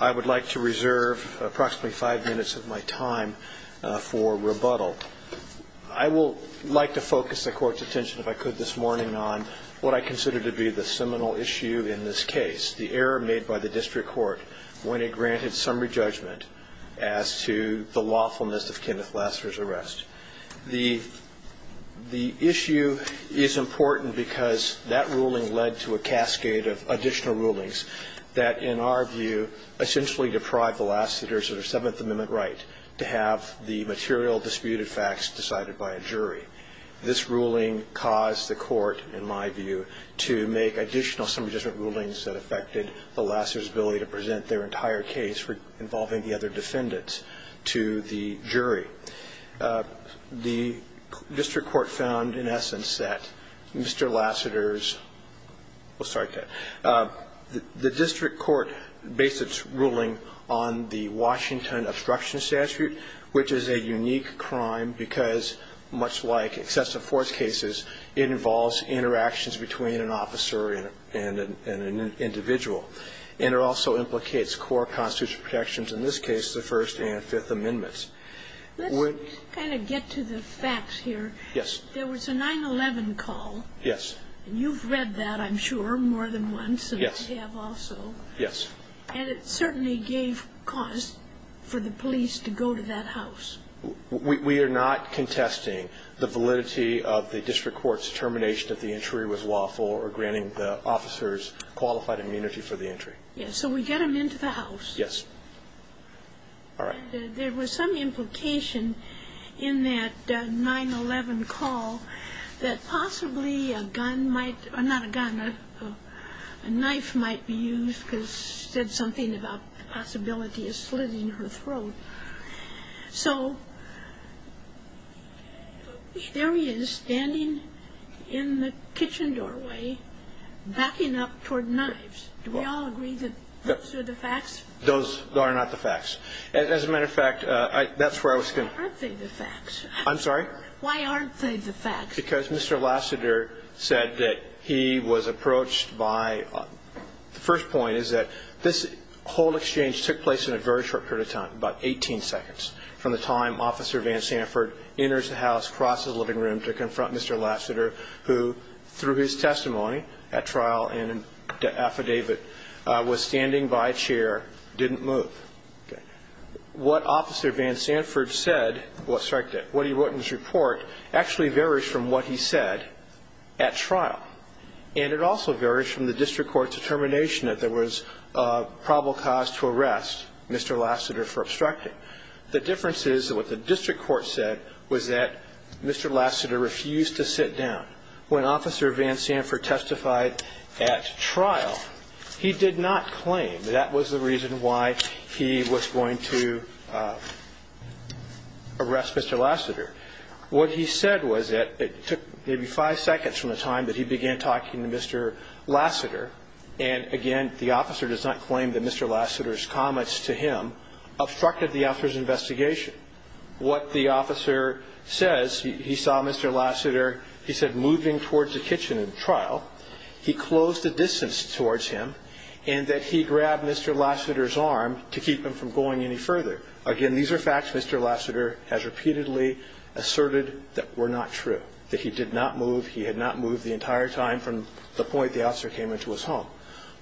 I would like to reserve approximately five minutes of my time for rebuttal. I will like to focus the court's attention, if I could, this morning on what I consider to be the seminal issue in this case, the error made by the district court when it granted summary judgment as to the lawfulness of Kenneth Lassiter's arrest. The issue is important because that ruling led to a cascade of additional rulings that, in our view, essentially deprived the Lassiters of their Seventh Amendment right to have the material disputed facts decided by a jury. This ruling caused the court, in my view, to make additional summary judgment rulings that affected the Lassiters' ability to present their entire case involving the other defendants to the jury. The district court found, in essence, that Mr. Lassiter's – well, sorry, Ted. The district court based its ruling on the Washington Obstruction Statute, which is a unique crime because, much like excessive force cases, it involves interactions between an officer and an individual. And it also implicates core constitutional protections, in this case, the First and Fifth Amendments. Let's kind of get to the facts here. Yes. There was a 9-11 call. Yes. And you've read that, I'm sure, more than once. Yes. And I have also. Yes. And it certainly gave cause for the police to go to that house. We are not contesting the validity of the district court's determination that the entry was lawful or granting the officers qualified immunity for the entry. Yes. So we get them into the house. Yes. All right. But there was some implication in that 9-11 call that possibly a gun might – not a gun, a knife might be used because she said something about the possibility of slitting her throat. So there he is, standing in the kitchen doorway, backing up toward knives. Do we all agree that those are the facts? Those are not the facts. As a matter of fact, that's where I was going to – Aren't they the facts? I'm sorry? Why aren't they the facts? Because Mr. Lassiter said that he was approached by – the first point is that this whole exchange took place in a very short period of time, about 18 seconds, from the time Officer Van Sanford enters the house, crosses the living room to confront Mr. Lassiter, who, through his testimony at trial and the affidavit, was standing by a chair, didn't move. What Officer Van Sanford said – sorry, what he wrote in his report actually varies from what he said at trial, and it also varies from the district court's determination that there was probable cause to arrest Mr. Lassiter for obstructing. The difference is that what the district court said was that Mr. Lassiter refused to sit down. When Officer Van Sanford testified at trial, he did not claim that that was the reason why he was going to arrest Mr. Lassiter. What he said was that it took maybe five seconds from the time that he began talking to Mr. Lassiter, and, again, the officer does not claim that Mr. Lassiter's comments to him obstructed the officer's investigation. What the officer says – he saw Mr. Lassiter, he said, moving towards the kitchen at trial. He closed the distance towards him and that he grabbed Mr. Lassiter's arm to keep him from going any further. Again, these are facts Mr. Lassiter has repeatedly asserted that were not true, that he did not move. He had not moved the entire time from the point the officer came into his home.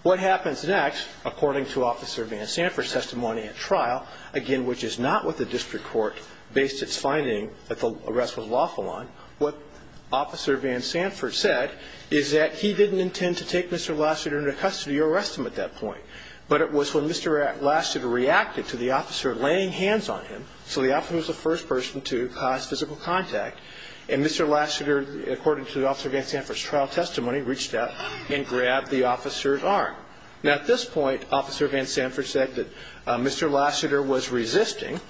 What happens next, according to Officer Van Sanford's testimony at trial, again, which is not what the district court based its finding that the arrest was lawful on, what Officer Van Sanford said is that he didn't intend to take Mr. Lassiter into custody or arrest him at that point, but it was when Mr. Lassiter reacted to the officer laying hands on him – So the officer was the first person to cause physical contact, and Mr. Lassiter, according to Officer Van Sanford's trial testimony, reached out and grabbed the officer's arm. Now, at this point, Officer Van Sanford said that Mr. Lassiter was resisting,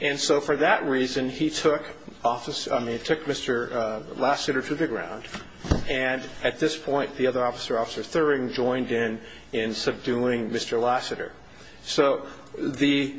and so for that reason he took Mr. Lassiter to the ground, and at this point the other officer, Officer Thuring, joined in in subduing Mr. Lassiter. So the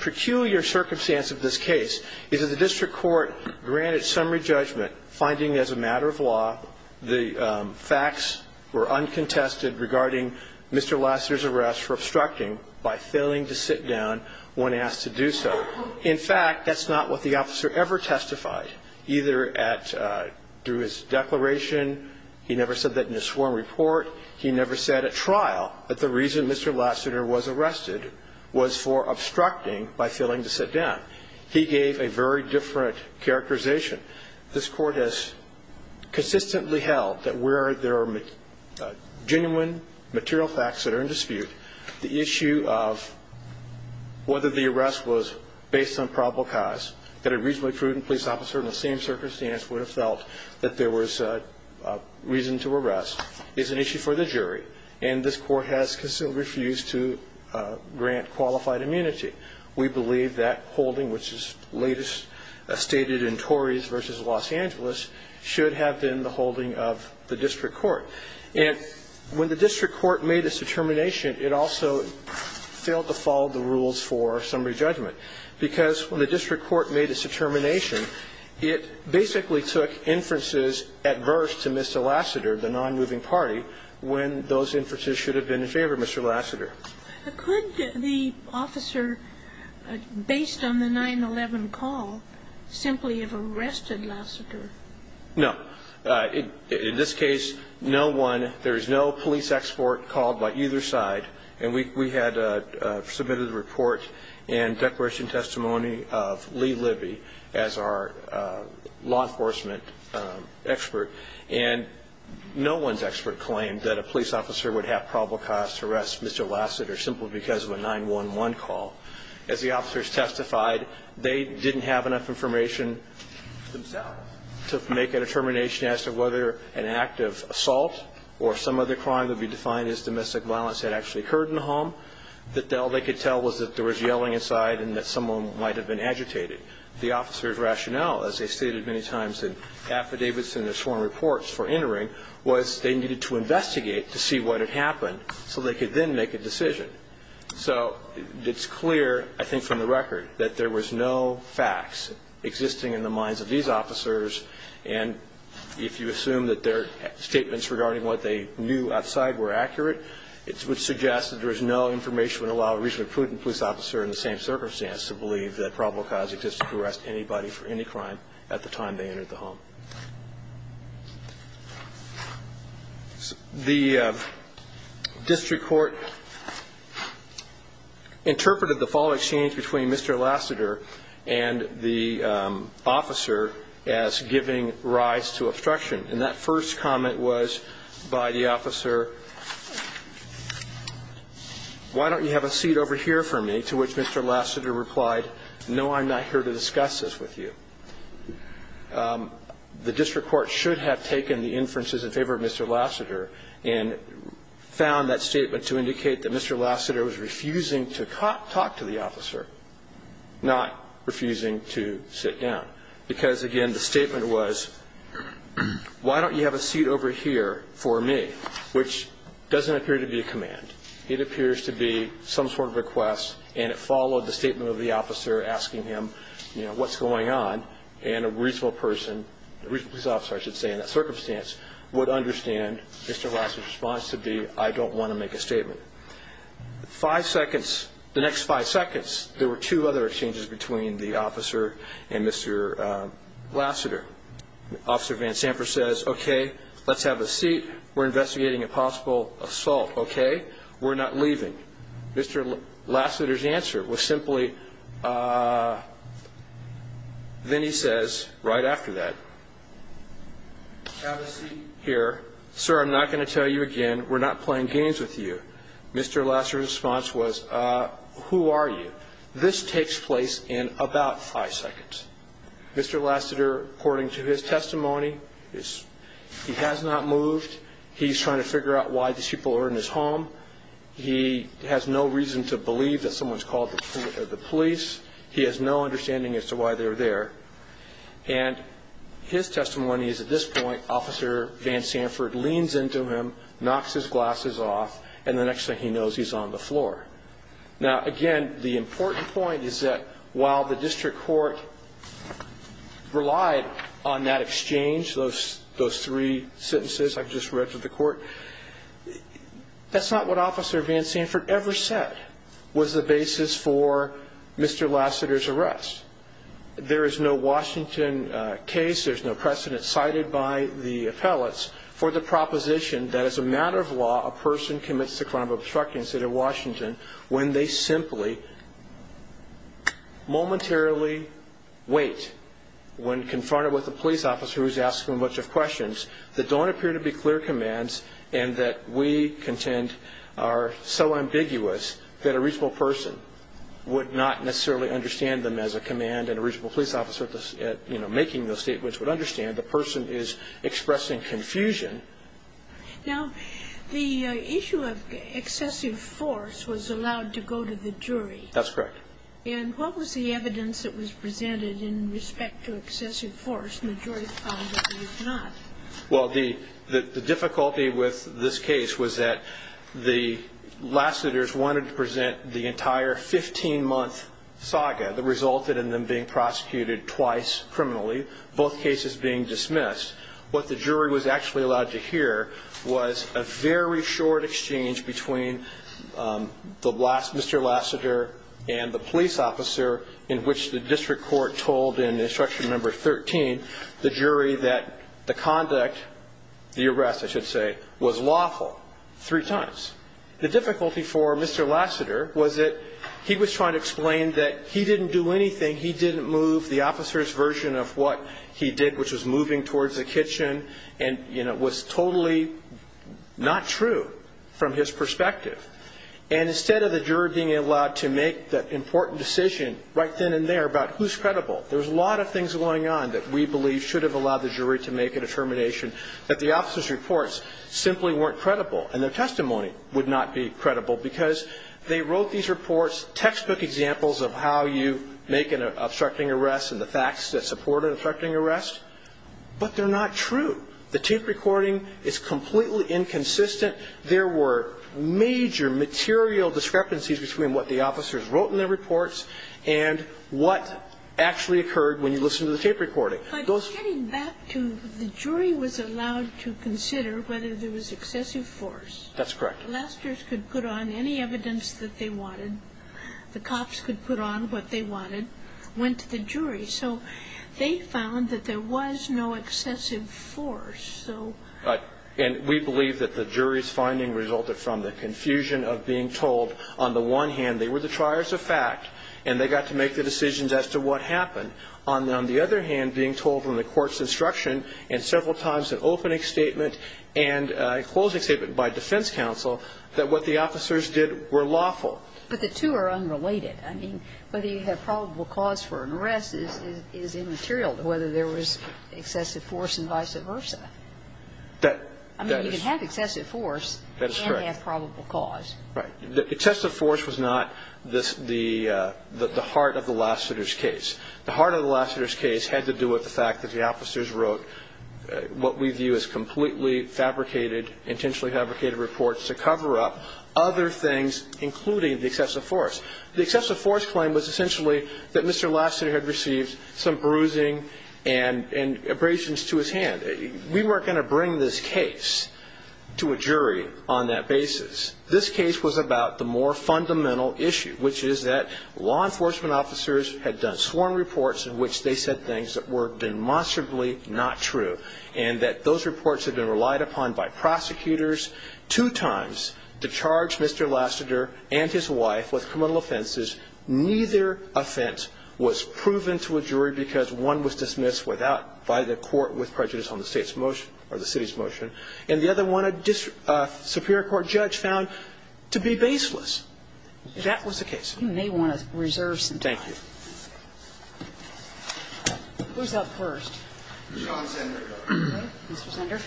peculiar circumstance of this case is that the district court granted summary judgment, finding as a matter of law the facts were uncontested regarding Mr. Lassiter's arrest for obstructing by failing to sit down when asked to do so. In fact, that's not what the officer ever testified, either at – through his declaration. He never said that in his sworn report. He never said at trial that the reason Mr. Lassiter was arrested was for obstructing by failing to sit down. He gave a very different characterization. This court has consistently held that where there are genuine material facts that are in dispute, the issue of whether the arrest was based on probable cause, that a reasonably prudent police officer in the same circumstance would have felt that there was reason to arrest, is an issue for the jury, and this court has refused to grant qualified immunity. We believe that holding, which is latest stated in Tories v. Los Angeles, should have been the holding of the district court. And when the district court made its determination, it also failed to follow the rules for summary judgment because when the district court made its determination, it basically took inferences adverse to Mr. Lassiter, the non-moving party, when those inferences should have been in favor of Mr. Lassiter. Could the officer, based on the 9-11 call, simply have arrested Lassiter? No. In this case, no one – there is no police export called by either side, and we had submitted a report and declaration testimony of Lee Libby as our law enforcement expert, and no one's expert claimed that a police officer would have probable cause to arrest Mr. Lassiter simply because of a 9-11 call. As the officers testified, they didn't have enough information themselves to make a determination as to whether an act of assault or some other crime that would be defined as domestic violence had actually occurred in the home, that all they could tell was that there was yelling inside and that someone might have been agitated. The officers' rationale, as they stated many times in affidavits and their sworn reports for entering, was they needed to investigate to see what had happened so they could then make a decision. So it's clear, I think from the record, that there was no facts existing in the minds of these officers, and if you assume that their statements regarding what they knew outside were accurate, it would suggest that there is no information that would allow a reasonably prudent police officer in the same circumstance to believe that probable cause existed to arrest anybody for any crime at the time they entered the home. The district court interpreted the following exchange between Mr. Lassiter and the officer as giving rise to obstruction. And that first comment was by the officer, why don't you have a seat over here for me, to which Mr. Lassiter replied, no, I'm not here to discuss this with you. The district court should have taken the inferences in favor of Mr. Lassiter and found that statement to indicate that Mr. Lassiter was refusing to talk to the officer, not refusing to sit down, because, again, the statement was, why don't you have a seat over here for me, which doesn't appear to be a command. It appears to be some sort of request, and it followed the statement of the officer asking him what's going on, and a reasonable person, a reasonable police officer, I should say, in that circumstance, would understand Mr. Lassiter's response to be, I don't want to make a statement. The next five seconds, there were two other exchanges between the officer and Mr. Lassiter. Officer Van Samper says, okay, let's have a seat. We're investigating a possible assault, okay? We're not leaving. Mr. Lassiter's answer was simply, then he says right after that, have a seat here. Sir, I'm not going to tell you again. We're not playing games with you. Mr. Lassiter's response was, who are you? This takes place in about five seconds. Mr. Lassiter, according to his testimony, he has not moved. He's trying to figure out why these people are in his home. He has no reason to believe that someone's called the police. He has no understanding as to why they're there. And his testimony is, at this point, Officer Van Samper leans into him, knocks his glasses off, and the next thing he knows, he's on the floor. Now, again, the important point is that while the district court relied on that exchange, those three sentences I've just read to the court, that's not what Officer Van Samper ever said was the basis for Mr. Lassiter's arrest. There is no Washington case, there's no precedent cited by the appellates for the proposition that, as a matter of law, a person commits the crime of obstructing the city of Washington when they simply momentarily wait when confronted with a police officer who's asking a bunch of questions that don't appear to be clear commands and that we contend are so ambiguous that a reasonable person would not necessarily understand them as a command and a reasonable police officer making those statements would understand. The person is expressing confusion. Now, the issue of excessive force was allowed to go to the jury. That's correct. And what was the evidence that was presented in respect to excessive force and the jury found that it was not? Well, the difficulty with this case was that the Lassiters wanted to present the entire 15-month saga that resulted in them being prosecuted twice criminally, both cases being dismissed. What the jury was actually allowed to hear was a very short exchange between Mr. Lassiter and the police officer in which the district court told in instruction number 13 the jury that the conduct, the arrest I should say, was lawful three times. The difficulty for Mr. Lassiter was that he was trying to explain that he didn't do anything, he didn't move the officer's version of what he did, which was moving towards the kitchen, and it was totally not true from his perspective. And instead of the jury being allowed to make that important decision right then and there about who's credible, there's a lot of things going on that we believe should have allowed the jury to make a determination that the officer's reports simply weren't credible and their testimony would not be credible because they wrote these reports, textbook examples of how you make an obstructing arrest and the facts that support an obstructing arrest, but they're not true. The tape recording is completely inconsistent. There were major material discrepancies between what the officers wrote in their reports and what actually occurred when you listened to the tape recording. But getting back to the jury was allowed to consider whether there was excessive force. That's correct. Lassiter's could put on any evidence that they wanted. The cops could put on what they wanted. It went to the jury. So they found that there was no excessive force. And we believe that the jury's finding resulted from the confusion of being told, on the one hand, they were the triers of fact and they got to make the decisions as to what happened. On the other hand, being told from the court's instruction and several times in opening statement and closing statement by defense counsel that what the officers did were lawful. But the two are unrelated. I mean, whether you have probable cause for an arrest is immaterial to whether there was excessive force and vice versa. That is correct. I mean, you can have excessive force and have probable cause. Right. Excessive force was not the heart of the Lassiter's case. The heart of the Lassiter's case had to do with the fact that the officers wrote what we view as completely fabricated, intentionally fabricated reports to cover up other things, including the excessive force. The excessive force claim was essentially that Mr. Lassiter had received some bruising and abrasions to his hand. We weren't going to bring this case to a jury on that basis. This case was about the more fundamental issue, which is that law enforcement officers had done sworn reports in which they said things that were demonstrably not true, and that those reports had been relied upon by prosecutors two times to charge Mr. Lassiter and his wife with criminal offenses. Neither offense was proven to a jury because one was dismissed by the court with prejudice on the state's motion or the city's motion, and the other one a Superior Court judge found to be baseless. That was the case. You may want to reserve some time. Thank you. Who's up first? John Zender. Okay. Mr. Zender.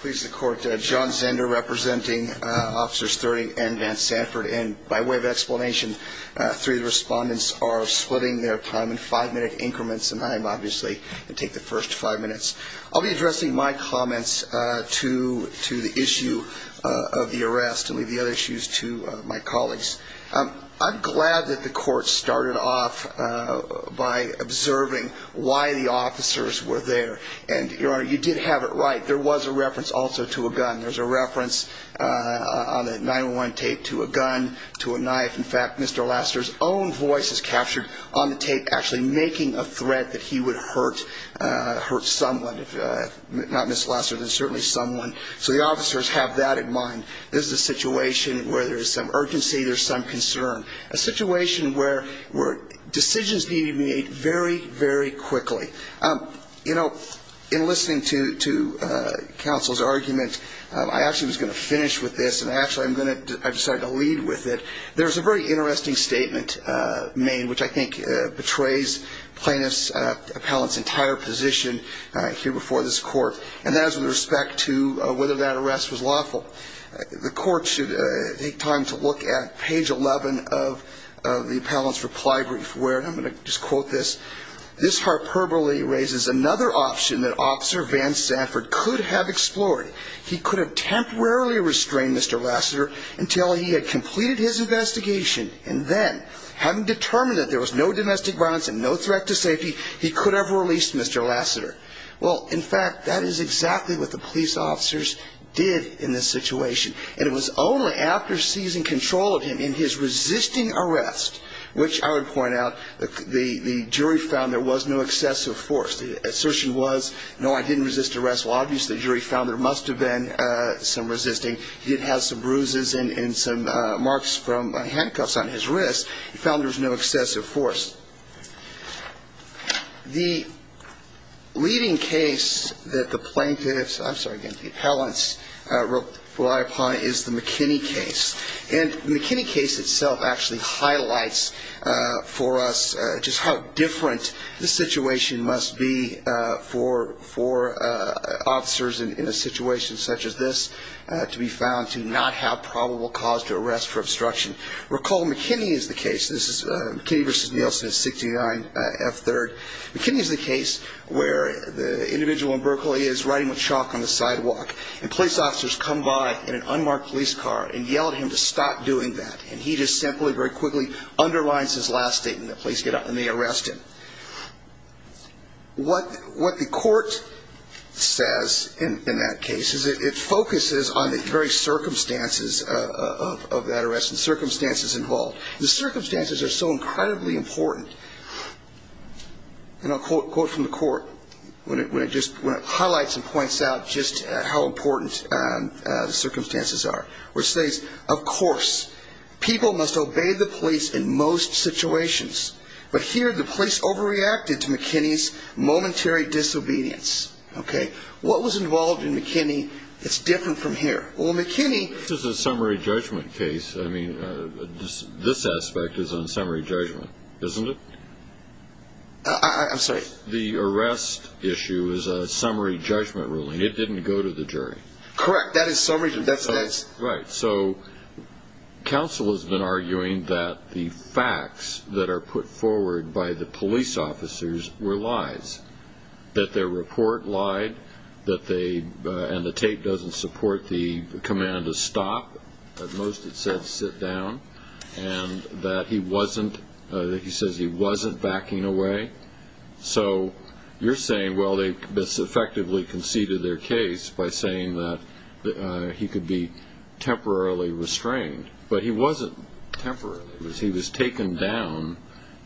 Please, the Court. John Zender representing Officers Thurding and Van Sanford. And by way of explanation, three of the respondents are splitting their time in five-minute increments, and I am obviously going to take the first five minutes. I'll be addressing my comments to the issue of the arrest and leave the other issues to my colleagues. I'm glad that the court started off by observing why the officers were there. And, Your Honor, you did have it right. There was a reference also to a gun. There's a reference on the 9-1-1 tape to a gun, to a knife. In fact, Mr. Lasseter's own voice is captured on the tape actually making a threat that he would hurt someone, not Ms. Lasseter, but certainly someone. So the officers have that in mind. This is a situation where there's some urgency, there's some concern, a situation where decisions need to be made very, very quickly. You know, in listening to counsel's argument, I actually was going to finish with this, and actually I decided to lead with it. There's a very interesting statement made, which I think betrays plaintiff's appellant's entire position here before this court, and that is with respect to whether that arrest was lawful. The court should take time to look at page 11 of the appellant's reply brief where, and I'm going to just quote this, this hyperbole raises another option that Officer Van Sanford could have explored. He could have temporarily restrained Mr. Lasseter until he had completed his investigation, and then having determined that there was no domestic violence and no threat to safety, he could have released Mr. Lasseter. Well, in fact, that is exactly what the police officers did in this situation, and it was only after seizing control of him in his resisting arrest, which I would point out the jury found there was no excessive force. The assertion was, no, I didn't resist arrest. Well, obviously the jury found there must have been some resisting. He did have some bruises and some marks from handcuffs on his wrist. He found there was no excessive force. The leading case that the plaintiffs, I'm sorry, again, the appellants rely upon is the McKinney case, and the McKinney case itself actually highlights for us just how different this situation must be for officers in a situation such as this to be found to not have probable cause to arrest for obstruction. Recall McKinney is the case. This is McKinney v. Nielsen in 69F3rd. McKinney is the case where the individual in Berkeley is riding with chalk on the sidewalk, and police officers come by in an unmarked police car and yell at him to stop doing that, and he just simply very quickly underlines his last statement that police get up and they arrest him. What the court says in that case is it focuses on the very circumstances of that arrest and circumstances involved. The circumstances are so incredibly important, and I'll quote from the court when it highlights and points out just how important the circumstances are, which says, Of course, people must obey the police in most situations, but here the police overreacted to McKinney's momentary disobedience. What was involved in McKinney is different from here. This is a summary judgment case. I mean, this aspect is on summary judgment, isn't it? I'm sorry. The arrest issue is a summary judgment ruling. It didn't go to the jury. Correct. That is summary judgment. Right. So counsel has been arguing that the facts that are put forward by the police officers were lies, that their report lied, and the tape doesn't support the command to stop. At most, it says sit down, and that he says he wasn't backing away. So you're saying, well, they effectively conceded their case by saying that he could be temporarily restrained, but he wasn't temporarily. He was taken down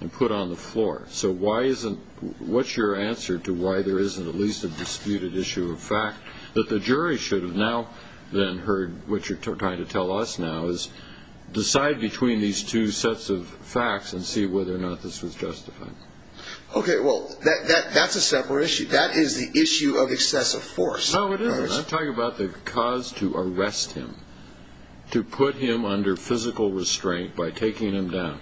and put on the floor. So what's your answer to why there isn't at least a disputed issue of fact, that the jury should have now then heard what you're trying to tell us now, decide between these two sets of facts and see whether or not this was justified? Okay, well, that's a separate issue. That is the issue of excessive force. No, it isn't. I'm talking about the cause to arrest him, to put him under physical restraint by taking him down.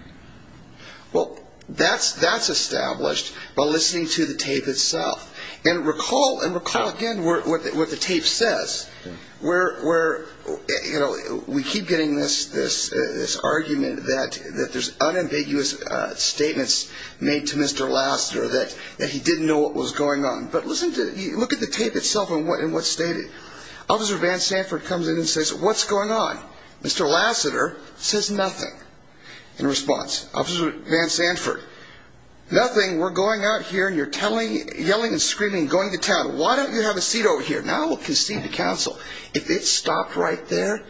Well, that's established by listening to the tape itself. And recall, again, what the tape says. We keep getting this argument that there's unambiguous statements made to Mr. Lasseter that he didn't know what was going on. But look at the tape itself and what's stated. Officer Van Sanford comes in and says, what's going on? Mr. Lasseter says nothing in response. Officer Van Sanford, nothing. We're going out here and you're yelling and screaming and going to town. Why don't you have a seat over here? Now we'll concede to counsel. If it stopped right there,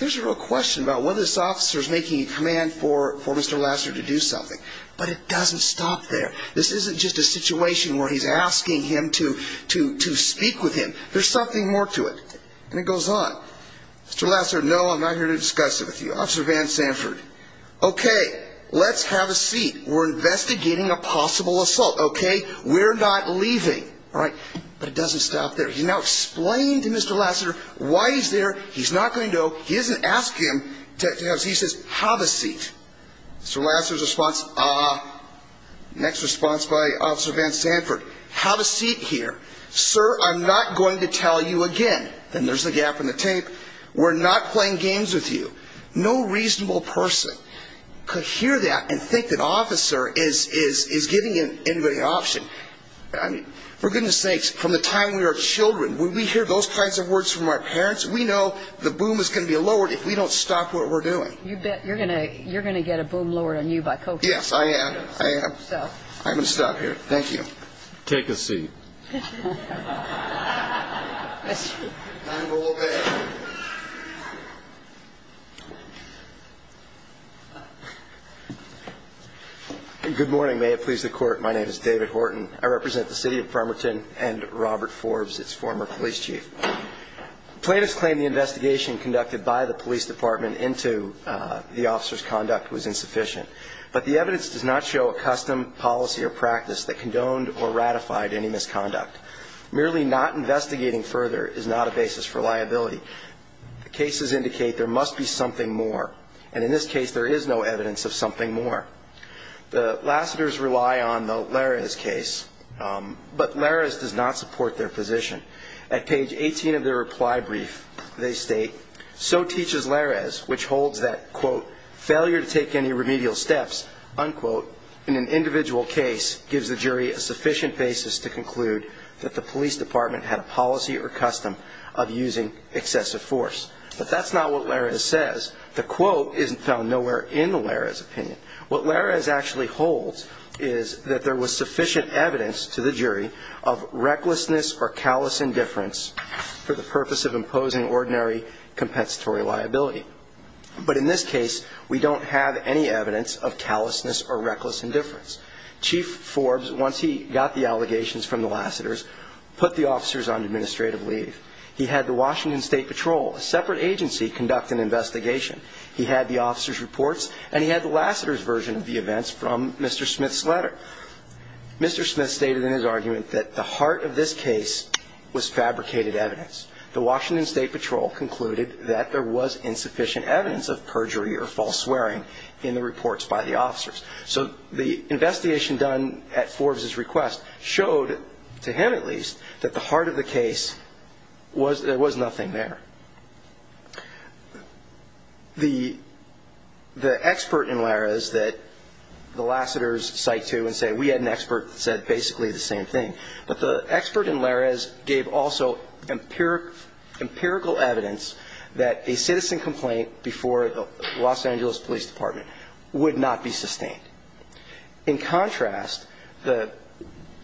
there's a real question about whether this officer is making a command for Mr. Lasseter to do something. But it doesn't stop there. This isn't just a situation where he's asking him to speak with him. There's something more to it. And it goes on. Mr. Lasseter, no, I'm not here to discuss it with you. Officer Van Sanford, okay, let's have a seat. We're investigating a possible assault, okay? We're not leaving, all right? But it doesn't stop there. He's now explained to Mr. Lasseter why he's there. He's not going to go. He doesn't ask him to have a seat. He says, have a seat. Mr. Lasseter's response, uh-huh. Next response by Officer Van Sanford, have a seat here. Sir, I'm not going to tell you again. Then there's the gap in the tape. We're not playing games with you. No reasonable person could hear that and think that an officer is giving anybody an option. I mean, for goodness sakes, from the time we were children, when we hear those kinds of words from our parents, we know the boom is going to be lowered if we don't stop what we're doing. You bet. You're going to get a boom lowered on you by coaching. Yes, I am. I am. I'm going to stop here. Thank you. Take a seat. Good morning. May it please the Court. My name is David Horton. I represent the City of Bremerton and Robert Forbes, its former police chief. Plaintiffs claim the investigation conducted by the police department into the officer's conduct was insufficient, but the evidence does not show a custom, policy, or practice that condoned or ratified any misconduct. Merely not investigating further is not a basis for liability. The cases indicate there must be something more, and in this case there is no evidence of something more. The Lassiters rely on the Larez case, but Larez does not support their position. At page 18 of their reply brief, they state, that the police department had a policy or custom of using excessive force. But that's not what Larez says. The quote isn't found nowhere in the Larez opinion. What Larez actually holds is that there was sufficient evidence to the jury But in this case, we don't have any evidence of callousness or reckless indifference. Chief Forbes, once he got the allegations from the Lassiters, put the officers on administrative leave. He had the Washington State Patrol, a separate agency, conduct an investigation. He had the officers' reports, and he had the Lassiters' version of the events from Mr. Smith's letter. Mr. Smith stated in his argument that the heart of this case was fabricated evidence. The Washington State Patrol concluded that there was insufficient evidence of perjury or false swearing in the reports by the officers. So the investigation done at Forbes' request showed, to him at least, that the heart of the case was that there was nothing there. The expert in Larez that the Lassiters cite to and say, we had an expert that said basically the same thing. But the expert in Larez gave also empirical evidence that a citizen complaint before the Los Angeles Police Department would not be sustained. In contrast, the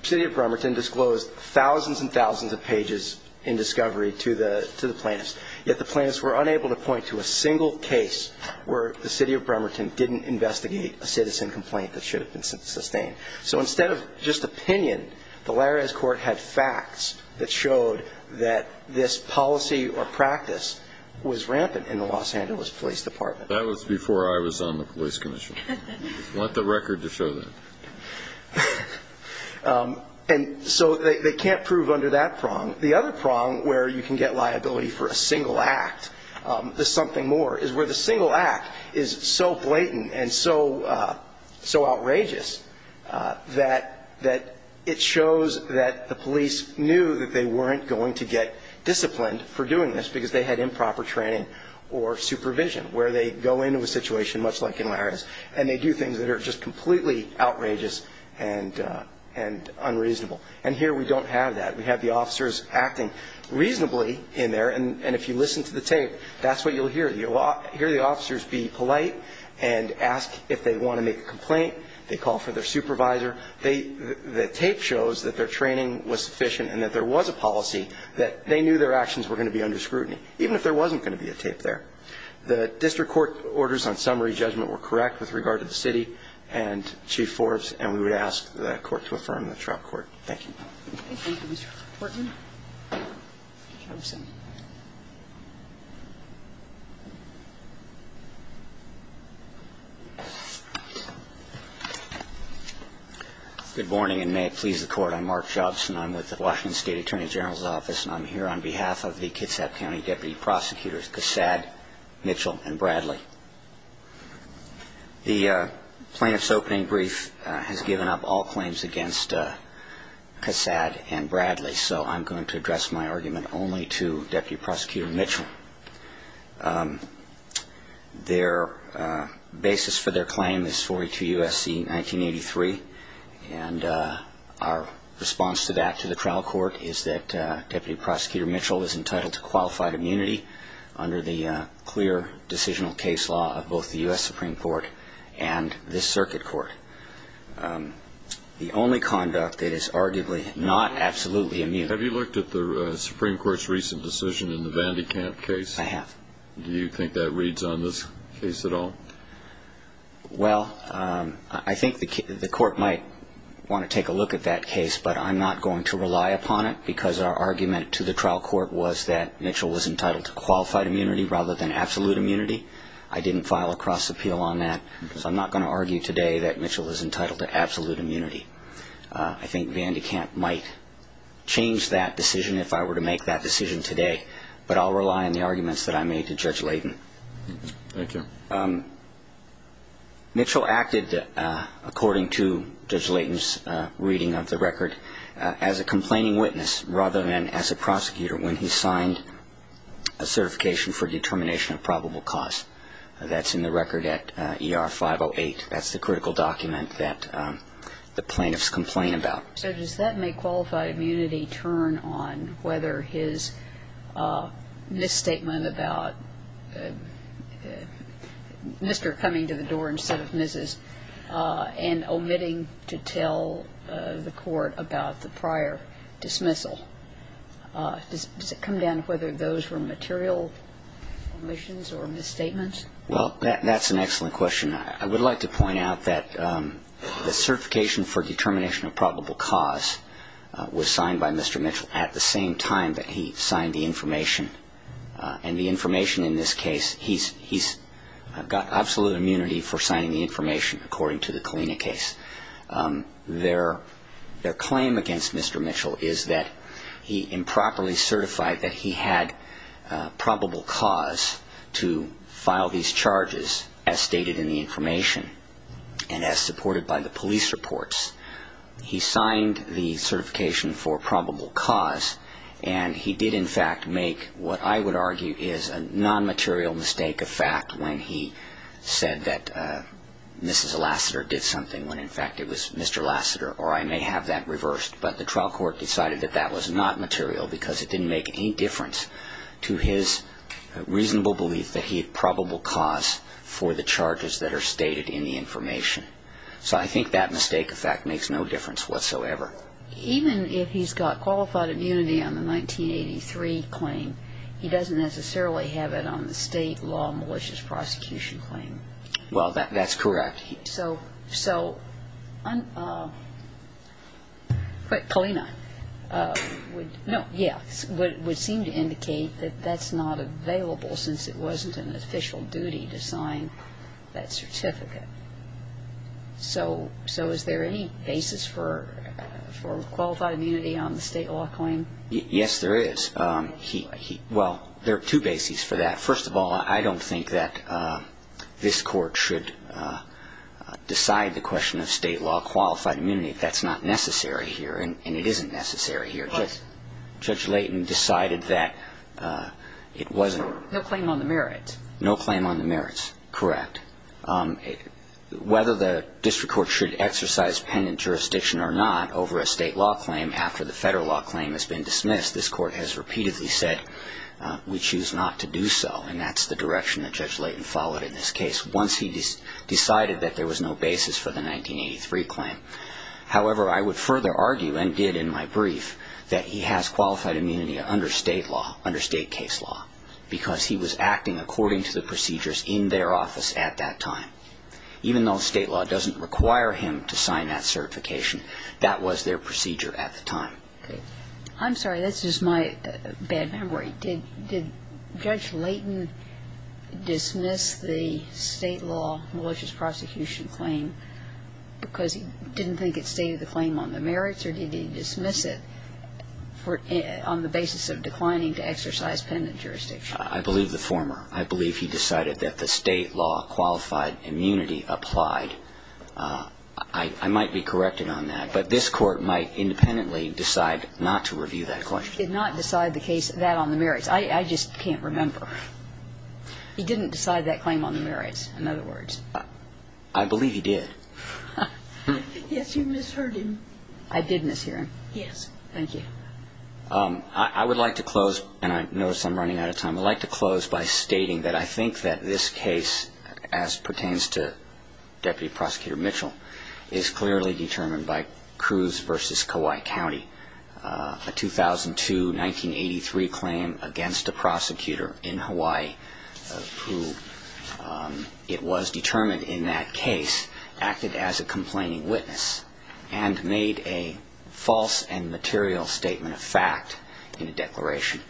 city of Bremerton disclosed thousands and thousands of pages in discovery to the plaintiffs, yet the plaintiffs were unable to point to a single case where the city of Bremerton didn't investigate a citizen complaint that should have been sustained. So instead of just opinion, the Larez court had facts that showed that this policy or practice was rampant in the Los Angeles Police Department. That was before I was on the police commission. I want the record to show that. And so they can't prove under that prong. The other prong where you can get liability for a single act is something more, is where the single act is so blatant and so outrageous that it shows that the police knew that they weren't going to get disciplined for doing this because they had improper training or supervision, where they go into a situation much like in Larez and they do things that are just completely outrageous and unreasonable. And here we don't have that. We have the officers acting reasonably in there. And if you listen to the tape, that's what you'll hear. You'll hear the officers be polite and ask if they want to make a complaint. They call for their supervisor. The tape shows that their training was sufficient and that there was a policy that they knew their actions were going to be under scrutiny, even if there wasn't going to be a tape there. The district court orders on summary judgment were correct with regard to the city and Chief Forbes, and we would ask the court to affirm the trial court. Thank you. Thank you, Mr. Portman. Good morning, and may it please the court. I'm Mark Jobson. I'm with the Washington State Attorney General's Office, and I'm here on behalf of the Kitsap County Deputy Prosecutors Cassad, Mitchell, and Bradley. The plaintiff's opening brief has given up all claims against Cassad and Bradley, so I'm going to address my argument only to Deputy Prosecutor Mitchell. Their basis for their claim is 42 U.S.C. 1983, and our response to that, to the trial court, is that Deputy Prosecutor Mitchell is entitled to qualified immunity under the clear decisional case law of both the U.S. Supreme Court and this circuit court, the only conduct that is arguably not absolutely immune. Have you looked at the Supreme Court's recent decision in the Vandy Camp case? I have. Do you think that reads on this case at all? Well, I think the court might want to take a look at that case, but I'm not going to rely upon it because our argument to the trial court was that Mitchell was entitled to qualified immunity rather than absolute immunity. I didn't file a cross-appeal on that, so I'm not going to argue today that Mitchell is entitled to absolute immunity. I think Vandy Camp might change that decision if I were to make that decision today, but I'll rely on the arguments that I made to Judge Leighton. Thank you. Mitchell acted, according to Judge Leighton's reading of the record, as a complaining witness rather than as a prosecutor when he signed a certification for determination of probable cause. That's in the record at ER 508. That's the critical document that the plaintiffs complain about. So does that make qualified immunity turn on whether his misstatement about Mr. coming to the door instead of Mrs. and omitting to tell the court about the prior dismissal? Does it come down to whether those were material omissions or misstatements? Well, that's an excellent question. I would like to point out that the certification for determination of probable cause was signed by Mr. Mitchell at the same time that he signed the information. And the information in this case, he's got absolute immunity for signing the information, according to the Kalina case. Their claim against Mr. Mitchell is that he improperly certified that he had probable cause to file these charges as stated in the information and as supported by the police reports. He signed the certification for probable cause, and he did, in fact, make what I would argue is a non-material mistake of fact when he said that Mrs. Lassiter did something when, in fact, it was Mr. Lassiter, or I may have that reversed. But the trial court decided that that was not material because it didn't make any difference to his reasonable belief that he had probable cause for the charges that are stated in the information. So I think that mistake of fact makes no difference whatsoever. Even if he's got qualified immunity on the 1983 claim, he doesn't necessarily have it on the state law malicious prosecution claim. Well, that's correct. So Kalina would seem to indicate that that's not available since it wasn't an official duty to sign that certificate. So is there any basis for qualified immunity on the state law claim? Yes, there is. Well, there are two bases for that. First of all, I don't think that this court should decide the question of state law qualified immunity. That's not necessary here, and it isn't necessary here. Judge Layton decided that it wasn't. No claim on the merits. No claim on the merits, correct. Whether the district court should exercise pendent jurisdiction or not over a state law claim after the federal law claim has been dismissed, this court has repeatedly said we choose not to do so, and that's the direction that Judge Layton followed in this case once he decided that there was no basis for the 1983 claim. However, I would further argue, and did in my brief, that he has qualified immunity under state law, under state case law, because he was acting according to the procedures in their office at that time. Even though state law doesn't require him to sign that certification, that was their procedure at the time. Okay. I'm sorry. That's just my bad memory. Did Judge Layton dismiss the state law malicious prosecution claim because he didn't think it stated the claim on the merits, or did he dismiss it on the basis of declining to exercise pendent jurisdiction? I believe the former. I believe he decided that the state law qualified immunity applied. I might be corrected on that, but this Court might independently decide not to review that question. He did not decide the case, that on the merits. I just can't remember. He didn't decide that claim on the merits, in other words. I believe he did. Yes, you misheard him. I did mishear him. Yes. Thank you. I would like to close, and I notice I'm running out of time. I would like to close by stating that I think that this case, as pertains to Deputy Prosecutor Mitchell, is clearly determined by Cruz v. Kauai County. A 2002-1983 claim against a prosecutor in Hawaii, who it was determined in that case acted as a complaining witness and made a false and material statement of fact in a declaration.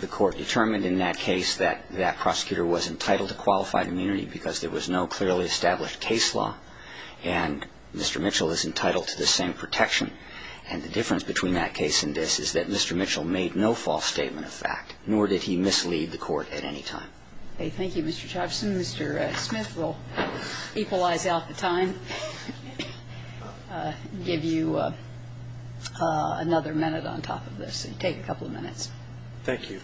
The Court determined in that case that that prosecutor was entitled to qualified immunity because there was no clearly established case law, and Mr. Mitchell is entitled to the same protection. And the difference between that case and this is that Mr. Mitchell made no false statement of fact, nor did he mislead the Court at any time. Okay. Thank you, Mr. Chapman. Mr. Smith will equalize out the time. Give you another minute on top of this. Take a couple of minutes. Thank you.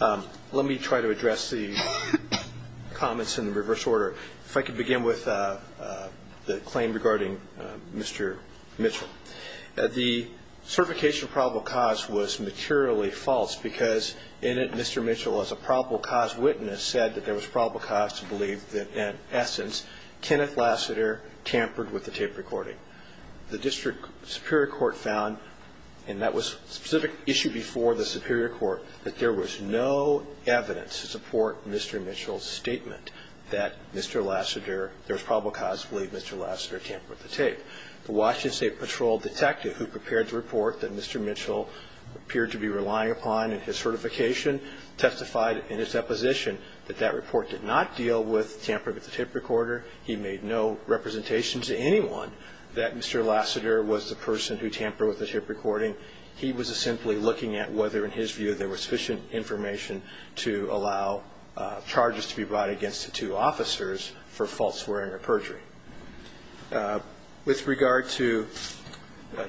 Let me try to address the comments in reverse order. If I could begin with the claim regarding Mr. Mitchell. The certification of probable cause was materially false because in it, Mr. Mitchell, as a probable cause witness, said that there was probable cause to believe that, in essence, Kenneth Lassiter tampered with the tape recording. The District Superior Court found, and that was a specific issue before the Superior Court, that there was no evidence to support Mr. Mitchell's statement that Mr. Lassiter, there was probable cause to believe Mr. Lassiter tampered with the tape. The Washington State Patrol detective who prepared the report that Mr. Mitchell appeared to be relying upon in his certification testified in his testimony that Mr. Mitchell did not tamper with the tape recorder. He made no representation to anyone that Mr. Lassiter was the person who tampered with the tape recording. He was simply looking at whether, in his view, there was sufficient information to allow charges to be brought against the two officers for false swearing or perjury. With regard to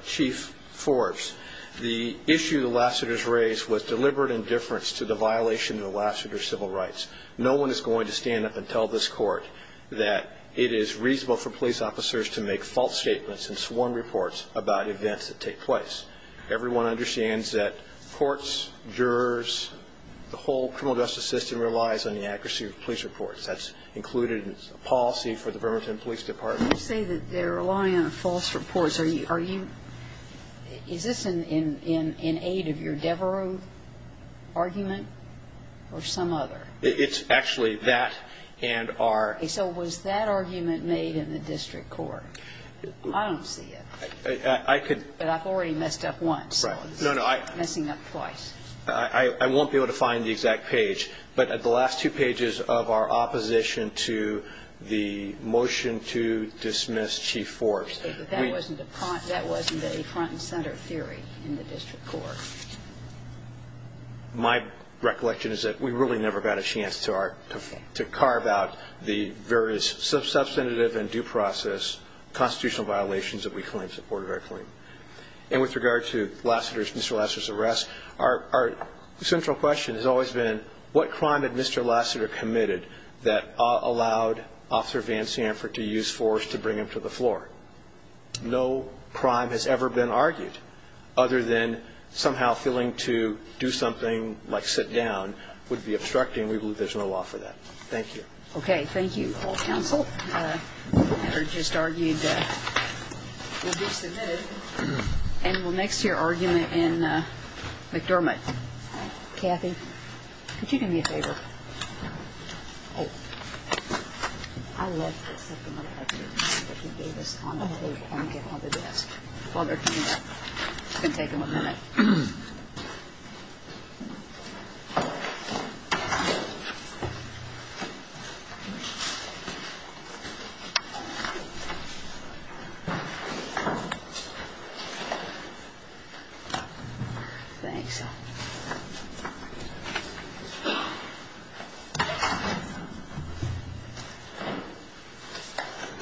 Chief Forbes, the issue that Lassiter's raised was deliberate indifference to the violation of Lassiter's civil rights. No one is going to stand up and tell this court that it is reasonable for police officers to make false statements and sworn reports about events that take place. Everyone understands that courts, jurors, the whole criminal justice system relies on the accuracy of police reports. That's included in policy for the Bremerton Police Department. You say that they're relying on false reports. Is this in aid of your Devereux argument or some other? It's actually that and our. So was that argument made in the district court? I don't see it. I could. But I've already messed up once. No, no. I'm messing up twice. I won't be able to find the exact page, but at the last two pages of our opposition to the motion to dismiss Chief Forbes. That wasn't a front and center theory in the district court. My recollection is that we really never got a chance to carve out the various substantive and due process constitutional violations that we claim supported our claim. And with regard to Lassiter's, Mr. Lassiter's arrest, our central question has always been what crime had Mr. Lassiter committed that allowed Officer Van Sanford to use force to bring him to the floor? No crime has ever been argued other than somehow feeling to do something like sit down would be obstructing. We believe there's no law for that. Thank you. Okay. Thank you. All counsel. Just argued. Kathy, could you do me a favor? Oh, I love this. I wonder if you can take him a minute. Thanks. Thank you.